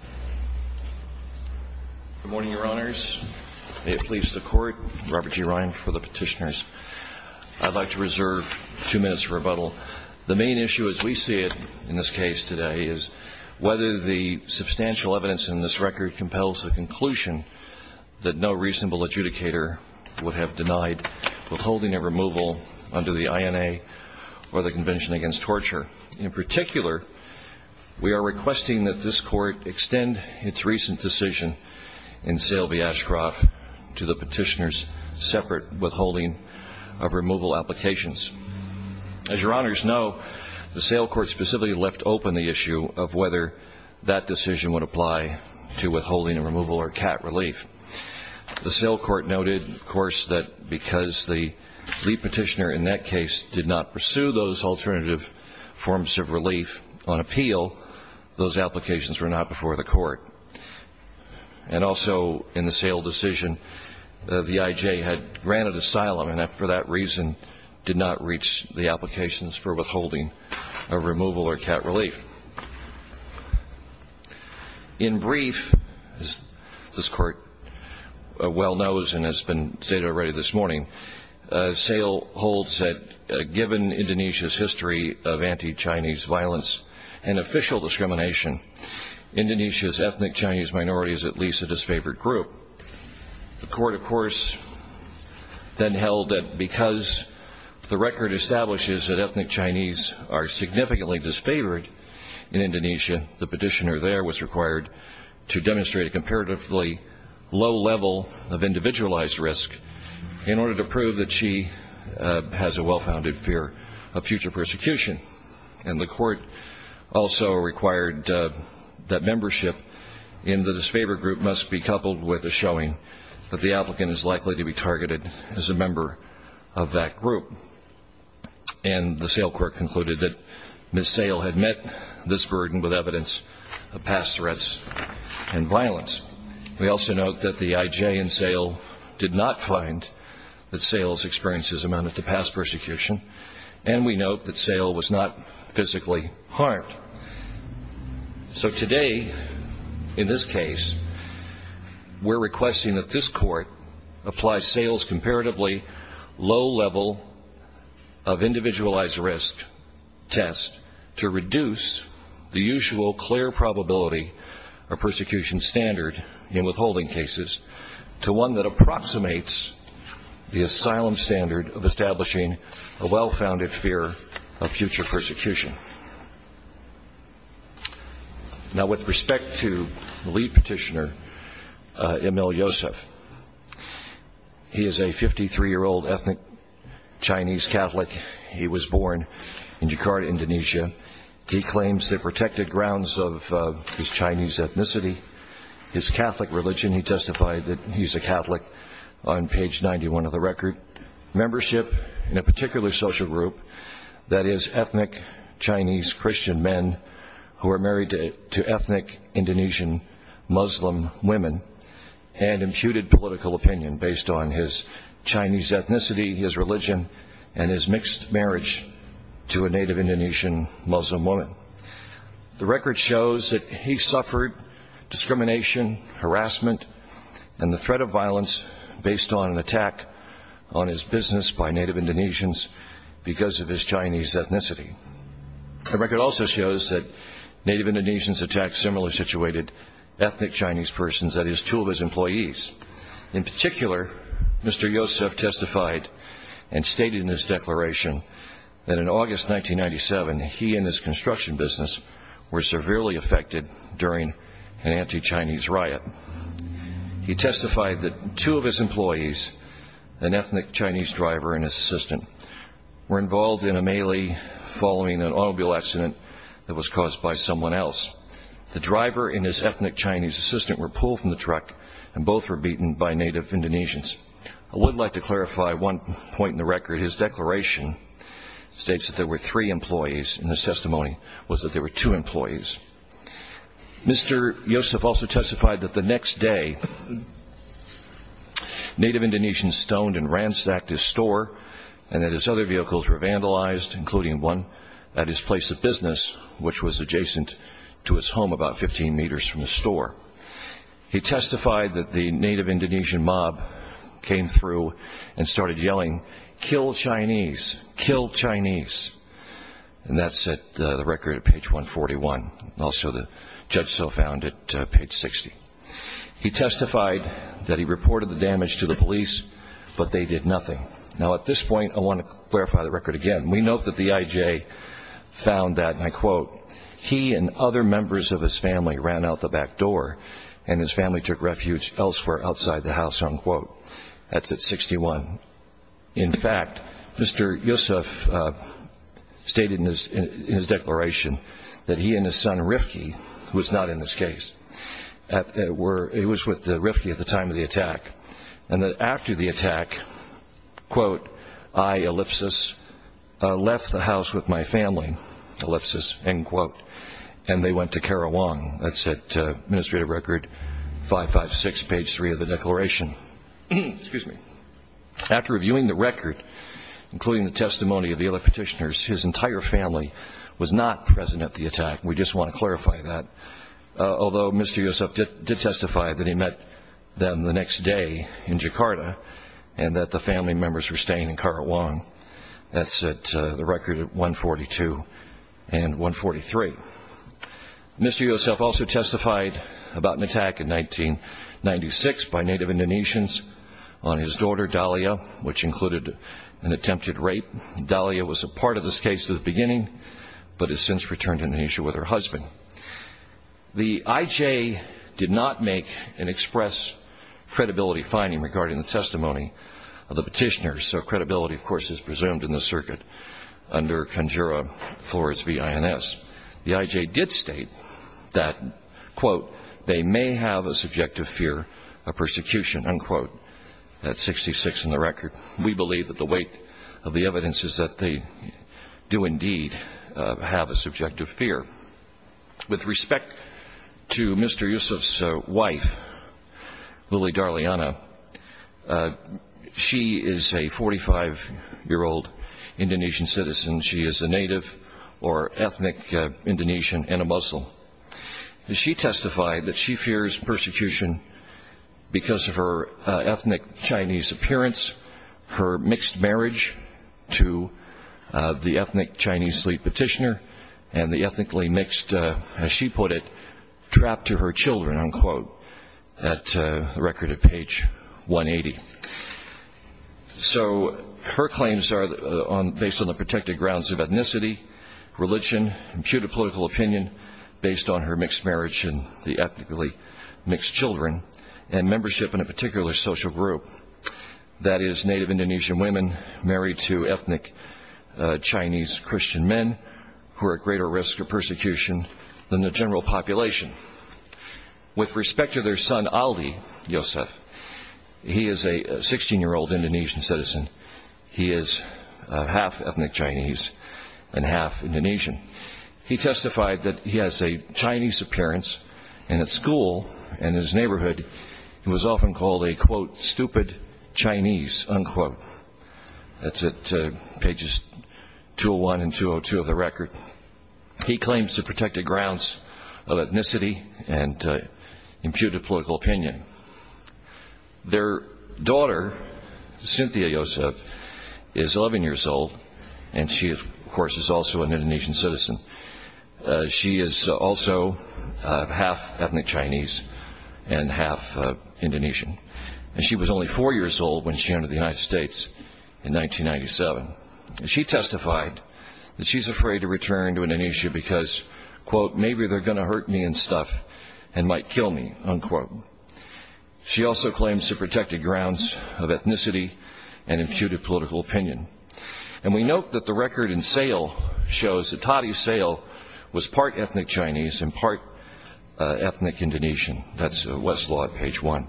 Good morning, Your Honors. May it please the Court, Robert G. Ryan for the Petitioners. I'd like to reserve two minutes for rebuttal. The main issue as we see it in this case today is whether the substantial evidence in this record compels the conclusion that no reasonable adjudicator would have denied withholding a removal under the INA or the Convention Against Torture. In particular, we are requesting that this Court extend its recent decision in Sale v. Ashcroft to the Petitioners' separate withholding of removal applications. As Your Honors know, the Sale Court specifically left open the issue of whether that decision would apply to withholding a removal or cat relief. The Sale Court noted, of course, that because the Petitioner in that case did not pursue those alternative forms of relief on appeal, those applications were not before the Court. And also, in the Sale decision, the VIJ had granted asylum and for that reason did not reach the applications for withholding a removal or cat relief. In brief, as this Court well knows and has been stated already this morning, Sale holds that given Indonesia's history of anti-Chinese violence and official discrimination, Indonesia's ethnic Chinese minority is at least a disfavored group. The Court, of course, then held that because the record establishes that ethnic Chinese are significantly disfavored in Indonesia, the Petitioner there was required to demonstrate a comparatively low level of wanted to prove that she has a well-founded fear of future persecution. And the Court also required that membership in the disfavored group must be coupled with a showing that the applicant is likely to be targeted as a member of that group. And the Sale Court concluded that Ms. Sale had met this burden with evidence of past threats and violence. We also note that the IJ in Sale did not find that Sale's experiences amounted to past persecution. And we note that Sale was not physically harmed. So today, in this case, we're requesting that this Court apply Sale's comparatively low level of individualized risk test to reduce the usual clear probability of persecution standard in withholding cases to one that approximates the asylum standard of establishing a well-founded fear of future persecution. Now, with respect to the lead Petitioner, Emil Yosef, he is a 53-year-old ethnic Chinese Catholic. He was born in Jakarta, Indonesia. He claims the protected grounds of his Chinese ethnicity, his Catholic religion. He testified that he's a Catholic on page 91 of the record. Membership in a particular social group, that is, ethnic Chinese Christian men who are married to ethnic Indonesian Muslim women and imputed political opinion based on his Chinese ethnicity, his religion, and his mixed marriage to a native Indonesian Muslim woman. The record shows that he suffered discrimination, harassment, and the threat of violence based on an attack on his business by native Indonesians because of his Chinese ethnicity. The record also shows that native Indonesians attacked similarly situated ethnic Chinese persons, that is, two of his employees. In particular, Mr. Yosef testified and stated in his declaration that in August 1997, he and his construction business were severely affected during an anti-Chinese riot. He testified that two of his employees, an ethnic Chinese driver and his assistant, were involved in a melee following an automobile accident that was caused by someone else. The driver and his ethnic Chinese assistant were pulled from the truck and both were beaten by native Indonesians. I would like to clarify one point in the record. His declaration states that there were three employees and his testimony was that there were two employees. Mr. Yosef also testified that the next day, native Indonesians stoned and ransacked his store and that his other vehicles were vandalized, including one at his place of business, which was adjacent to his home about 15 meters from the store. He testified that the native Indonesian mob came through and started yelling, kill Chinese, kill Chinese. And that's the record at page 141. Also, the judge so found it at page 60. He testified that he reported the damage to the police, but they did nothing. Now, at this point, I want to clarify the record again. We note that the IJ found that, and I quote, he and other members of his family ran out the back door and his family took refuge elsewhere outside the house, unquote. That's at 61. In fact, Mr. Yosef stated in his declaration that he and his son, Rifki, who was not in this case, it was with Rifki at the time of the attack, and that after the attack, quote, I, Ellipsis, left the house with my family, Ellipsis, end quote, and they went to Karawang. That's at administrative record 556, page three of the declaration. Excuse me. After reviewing the record, including the testimony of the other petitioners, his entire family was not present at the attack. We just want to clarify that. Although Mr. Yosef did testify that he met them the next day in Jakarta, and that the family members were staying in Karawang. That's at the record 142 and 143. Mr. Yosef also testified about an attack in 1996 by Native Indonesians on his daughter, Dalia, which included an attempted rape. Dalia was a part of this case at the The IJ did not make an express credibility finding regarding the testimony of the petitioners, so credibility, of course, is presumed in the circuit under Conjura Flores v. INS. The IJ did state that, quote, they may have a subjective fear of persecution, unquote. That's 66 in the record. We believe that the weight of the evidence is that they do indeed have a subjective fear. With respect to Mr. Yosef's wife, Lili Darliana, she is a 45-year-old Indonesian citizen. She is a native or ethnic Indonesian and a Muslim. She testified that she fears persecution because of her ethnic Chinese appearance, her mixed marriage to the ethnic Chinese lead petitioner, and the ethnically mixed, as she put it, trapped to her children, unquote, at the record at page 180. So her claims are based on the protected grounds of ethnicity, religion, imputed political opinion based on her mixed marriage and the ethnically mixed children, and membership in a particular social group, that is, Native Indonesian women married to ethnic Chinese Christian men who are at greater risk of persecution than the general population. With respect to their son, Ali Yosef, he is a 16-year-old Indonesian citizen. He is half ethnic Chinese and half Indonesian. He testified that he has a Chinese appearance, and at school and in his neighborhood he was often called a, quote, stupid Chinese, unquote. That's at pages 201 and 202 of the record. He claims the protected grounds of ethnicity and imputed political opinion. Their daughter, Cynthia Yosef, is 11 years old, and she, of course, is also an Indonesian citizen. She is also half ethnic Chinese and half Indonesian, and she was only four years old when she entered the United States in 1997. She testified that she's afraid to return to Indonesia because, quote, maybe they're going to hurt me and stuff and might kill me, unquote. She also claims the protected grounds of ethnicity and imputed political opinion. And we note that the record in SAIL shows that Tati SAIL was part ethnic Chinese and part ethnic Indonesian. That's Westlaw, page one.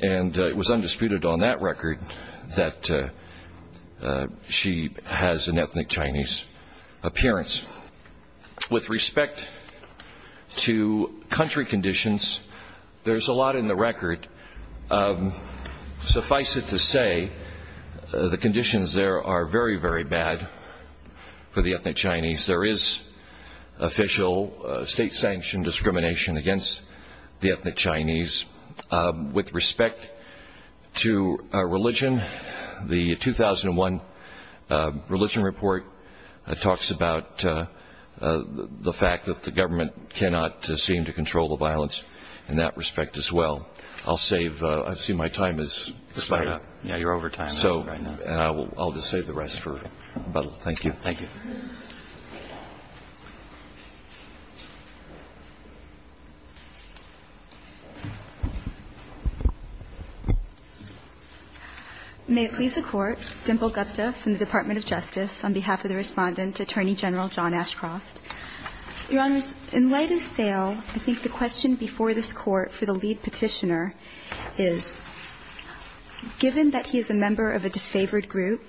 And it was undisputed on that record that she has an ethnic Chinese appearance. With respect to country conditions, there's a lot in the record. Suffice it to add, for the ethnic Chinese, there is official state-sanctioned discrimination against the ethnic Chinese. With respect to religion, the 2001 religion report talks about the fact that the government cannot seem to control the violence in that respect as well. I'll just save the rest for a moment. Thank you. May it please the Court. Dimple Gupta from the Department of Justice on behalf of the Respondent, Attorney General John Ashcroft. Your Honors, in light of SAIL, I think the question before this Court for the lead Petitioner is, given that he is a member of a disfavored group,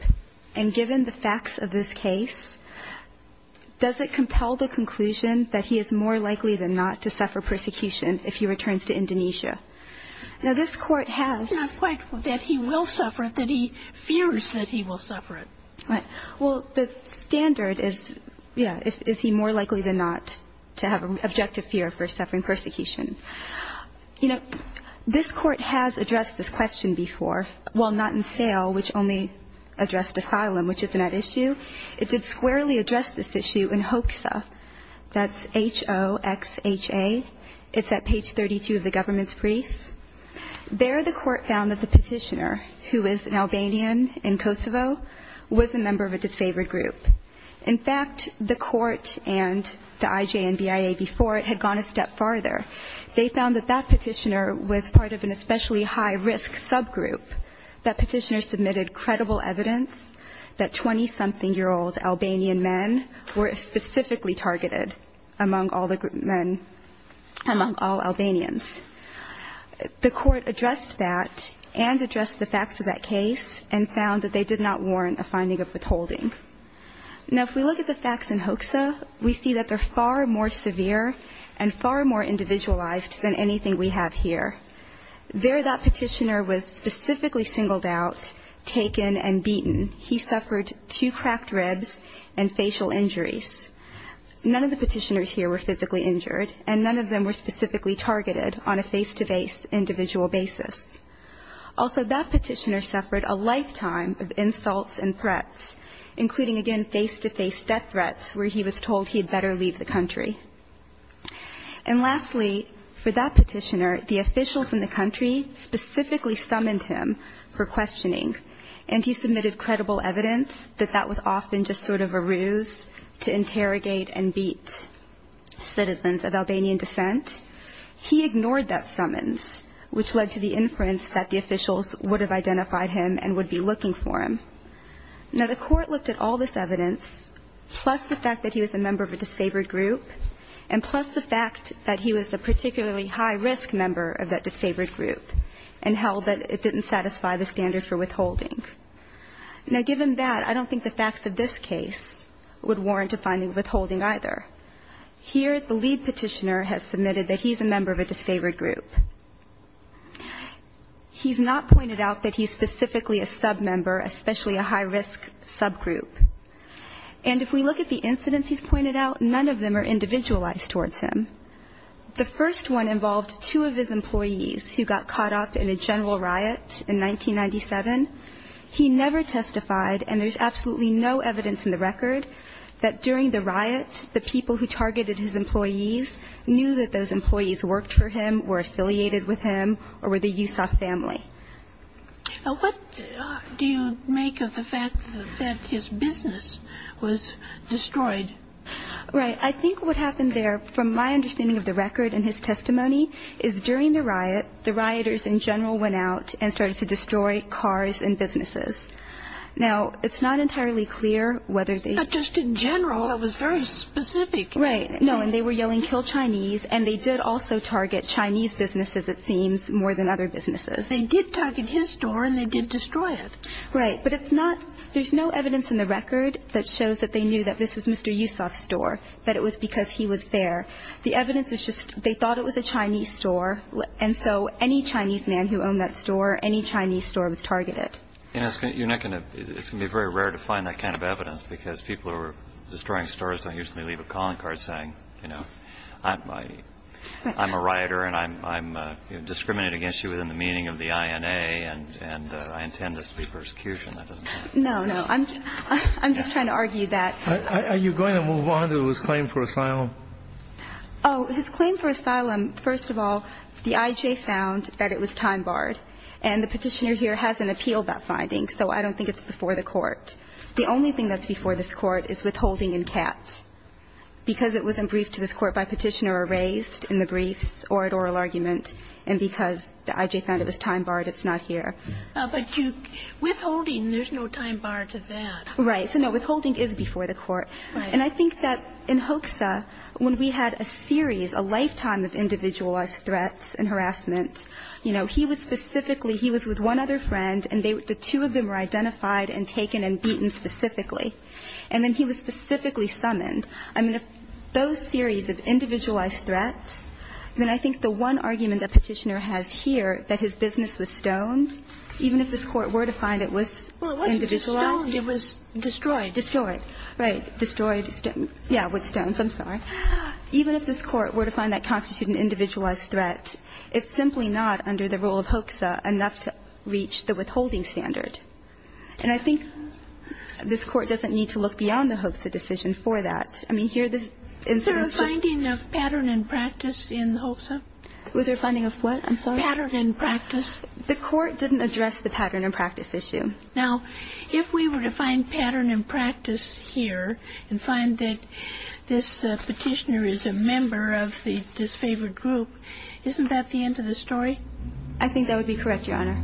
and given the facts of this case, does it compel the conclusion that he is more likely than not to suffer persecution if he returns to Indonesia? Now, this Court has quite the point that he will suffer it, that he fears that he will suffer it. Right. Well, the standard is, yeah, is he more likely than not to have an objective fear for suffering persecution? You know, this Court has addressed this question before, well, not in SAIL, which only addressed asylum, which isn't at issue. It did squarely address this issue in HOXA. That's H-O-X-H-A. It's at page 32 of the government's brief. There the Court found that the Petitioner, who is an Albanian in Kosovo, was a member of a disfavored group. In fact, the Court and the IJ and BIA before it had gone a step further, the Petitioner submitted credible evidence that 20-something-year-old Albanian men were specifically targeted among all the men, among all Albanians. The Court addressed that and addressed the facts of that case and found that they did not warrant a finding of withholding. Now, if we look at the facts in HOXA, we see that they're far more severe and far more severe. The Petitioner was specifically singled out, taken, and beaten. He suffered two cracked ribs and facial injuries. None of the Petitioners here were physically injured, and none of them were specifically targeted on a face-to-face individual basis. Also, that Petitioner suffered a lifetime of insults and threats, including, again, face-to-face death threats where he was told he had better leave the country. And lastly, for that Petitioner, the officials in the country specifically summoned him for questioning, and he submitted credible evidence that that was often just sort of a ruse to interrogate and beat citizens of Albanian descent. He ignored that summons, which led to the inference that the officials would have identified him and would be looking for him. Now, the Court looked at all this evidence, plus the fact that he was a member of a disfavored group, and plus the fact that he was a particularly high-risk member of that disfavored group, and held that it didn't satisfy the standards for withholding. Now, given that, I don't think the facts of this case would warrant a finding of withholding either. Here, the lead Petitioner has submitted that he's a member of a disfavored group. He's not pointed out that he's specifically a submember, especially a high-risk subgroup. And if we look at the incidents he's pointed out, none of them are individualized towards him. The first one involved two of his employees who got caught up in a general riot in 1997. He never testified, and there's absolutely no evidence in the record that during the riot the people who targeted his employees knew that those employees worked for him, were affiliated with him, or were the Yusoff family. Now, what do you make of the fact that his business was destroyed? Right. I think what happened there, from my understanding of the record and his testimony, is during the riot, the rioters in general went out and started to destroy cars and businesses. Now, it's not entirely clear whether they ---- But just in general, that was very specific. Right. No. And they were yelling, kill Chinese, and they did also target Chinese businesses, it seems, more than other businesses. They did target his store, and they did destroy it. Right. But it's not ---- There's no evidence in the record that shows that they knew that this was Mr. Yusoff's store, that it was because he was there. The evidence is just they thought it was a Chinese store, and so any Chinese man who owned that store, any Chinese store was targeted. You're not going to ---- It's going to be very rare to find that kind of evidence because people who are destroying stores don't usually leave a calling card saying, you know, I'm a rioter, and I'm discriminating against you within the meaning of the INA, and I intend this to be persecution. That doesn't happen. No, no. I'm just trying to argue that ---- Are you going to move on to his claim for asylum? Oh, his claim for asylum, first of all, the IJ found that it was time barred, and the Petitioner here has an appeal about findings, so I don't think it's before the Court. The only thing that's before this Court is withholding in Katz, because it was in brief to this Court by Petitioner or raised in the briefs or at oral argument, and because the IJ found it was time barred, it's not here. But you ---- Withholding, there's no time bar to that. Right. So, no, withholding is before the Court. Right. And I think that in Hoekse, when we had a series, a lifetime of individualized threats and harassment, you know, he was specifically ---- he was with one other friend, and the two of them were identified and taken and beaten specifically. And then he was specifically summoned. I mean, if those series of individualized threats, then I think the one argument that Petitioner has here, that his business was stoned, even if this Court were to find it was individualized ---- Well, it wasn't just stoned. It was destroyed. Destroyed. Right. Destroyed. Yeah, with stones. I'm sorry. Even if this Court were to find that constituted an individualized threat, it's simply not under the rule of Hoekse enough to reach the withholding standard. And I think this Court doesn't need to look beyond the Hoekse decision for that. I mean, here the instance just ---- Is there a finding of pattern and practice in Hoekse? Was there a finding of what? I'm sorry. Pattern and practice. The Court didn't address the pattern and practice issue. Now, if we were to find pattern and practice here and find that this Petitioner is a member of the disfavored group, isn't that the end of the story? I think that would be correct, Your Honor.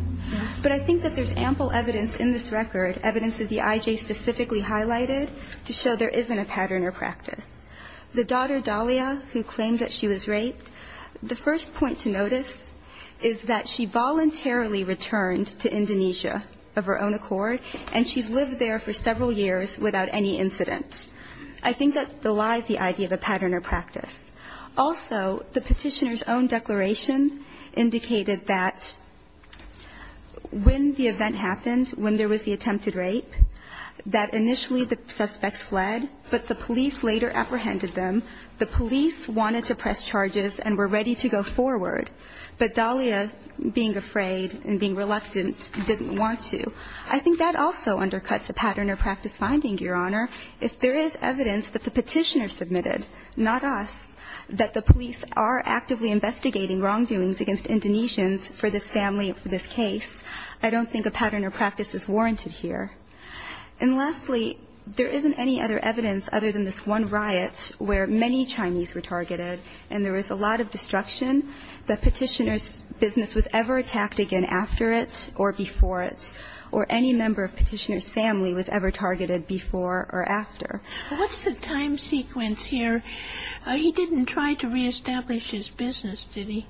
But I think that there's ample evidence in this record, evidence that the IJ specifically highlighted, to show there isn't a pattern or practice. The daughter, Dahlia, who claimed that she was raped, the first point to notice is that she voluntarily returned to Indonesia of her own accord, and she's lived there for several years without any incidents. I think that still lies the idea of a pattern or practice. Also, the Petitioner's own declaration indicated that when the event happened, when there was the attempted rape, that initially the suspects fled, but the police later apprehended them. The police wanted to press charges and were ready to go forward. But Dahlia, being afraid and being reluctant, didn't want to. I think that also undercuts the pattern or practice finding, Your Honor. If there is evidence that the Petitioner submitted, not us, that the police are actively investigating wrongdoings against Indonesians for this family and for this case, I don't think a pattern or practice is warranted here. And lastly, there isn't any other evidence other than this one riot where many Chinese were targeted, and there was a lot of destruction. The Petitioner's business was ever attacked again after it or before it. Or any member of Petitioner's family was ever targeted before or after. What's the time sequence here? He didn't try to reestablish his business, did he?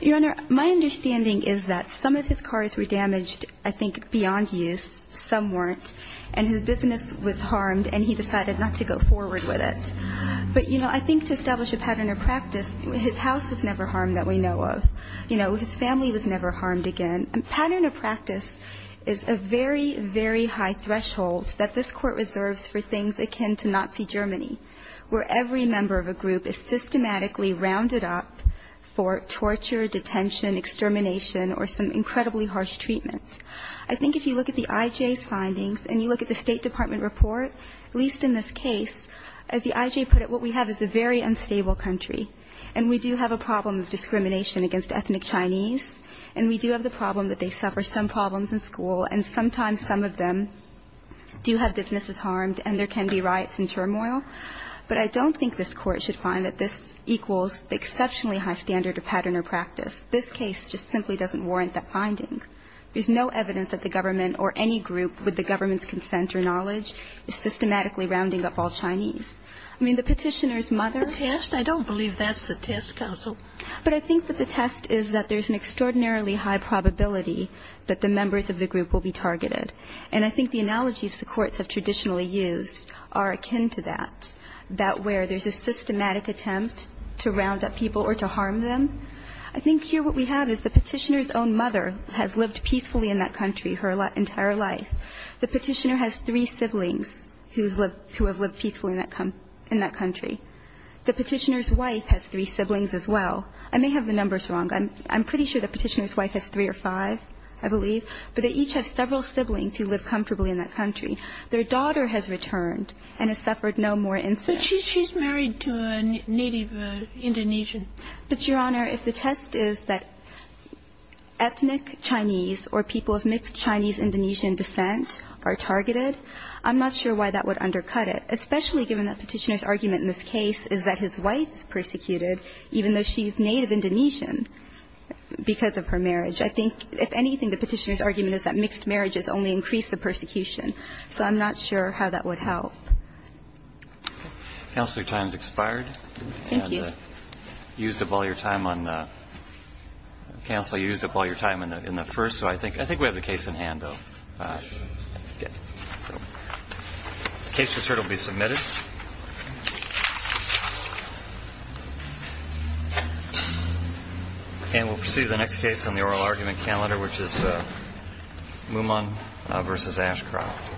Your Honor, my understanding is that some of his cars were damaged, I think, beyond use. Some weren't. And his business was harmed, and he decided not to go forward with it. But, you know, I think to establish a pattern or practice, his house was never harmed that we know of. You know, his family was never harmed again. A pattern or practice is a very, very high threshold that this Court reserves for things akin to Nazi Germany, where every member of a group is systematically rounded up for torture, detention, extermination, or some incredibly harsh treatment. I think if you look at the IJ's findings and you look at the State Department report, at least in this case, as the IJ put it, what we have is a very unstable country, and we do have a problem of discrimination against ethnic Chinese, and we do have the problem that they suffer some problems in school, and sometimes some of them do have businesses harmed, and there can be riots and turmoil. But I don't think this Court should find that this equals the exceptionally high standard of pattern or practice. This case just simply doesn't warrant that finding. There's no evidence that the government or any group with the government's consent or knowledge is systematically rounding up all Chinese. I mean, the Petitioner's mother. The test? I don't believe that's the test, counsel. But I think that the test is that there's an extraordinarily high probability that the members of the group will be targeted. And I think the analogies the courts have traditionally used are akin to that, that where there's a systematic attempt to round up people or to harm them. I think here what we have is the Petitioner's own mother has lived peacefully in that country her entire life. The Petitioner has three siblings who have lived peacefully in that country. The Petitioner's wife has three siblings as well. I may have the numbers wrong. I'm pretty sure the Petitioner's wife has three or five, I believe. But they each have several siblings who live comfortably in that country. Their daughter has returned and has suffered no more incidents. But she's married to a native Indonesian. But, Your Honor, if the test is that ethnic Chinese or people of mixed Chinese-Indonesian descent are targeted, I'm not sure why that would undercut it, especially given that Petitioner's argument in this case is that his wife is persecuted even though she's native Indonesian because of her marriage. I think, if anything, the Petitioner's argument is that mixed marriages only increase the persecution. So I'm not sure how that would help. Roberts. Counsel, your time has expired. Thank you. And you used up all your time on the --- counsel, you used up all your time on the So I think we have the case in hand, though. Okay. The case result will be submitted. And we'll proceed to the next case on the oral argument calendar, which is Mumang v. Ashcroft. Thank you.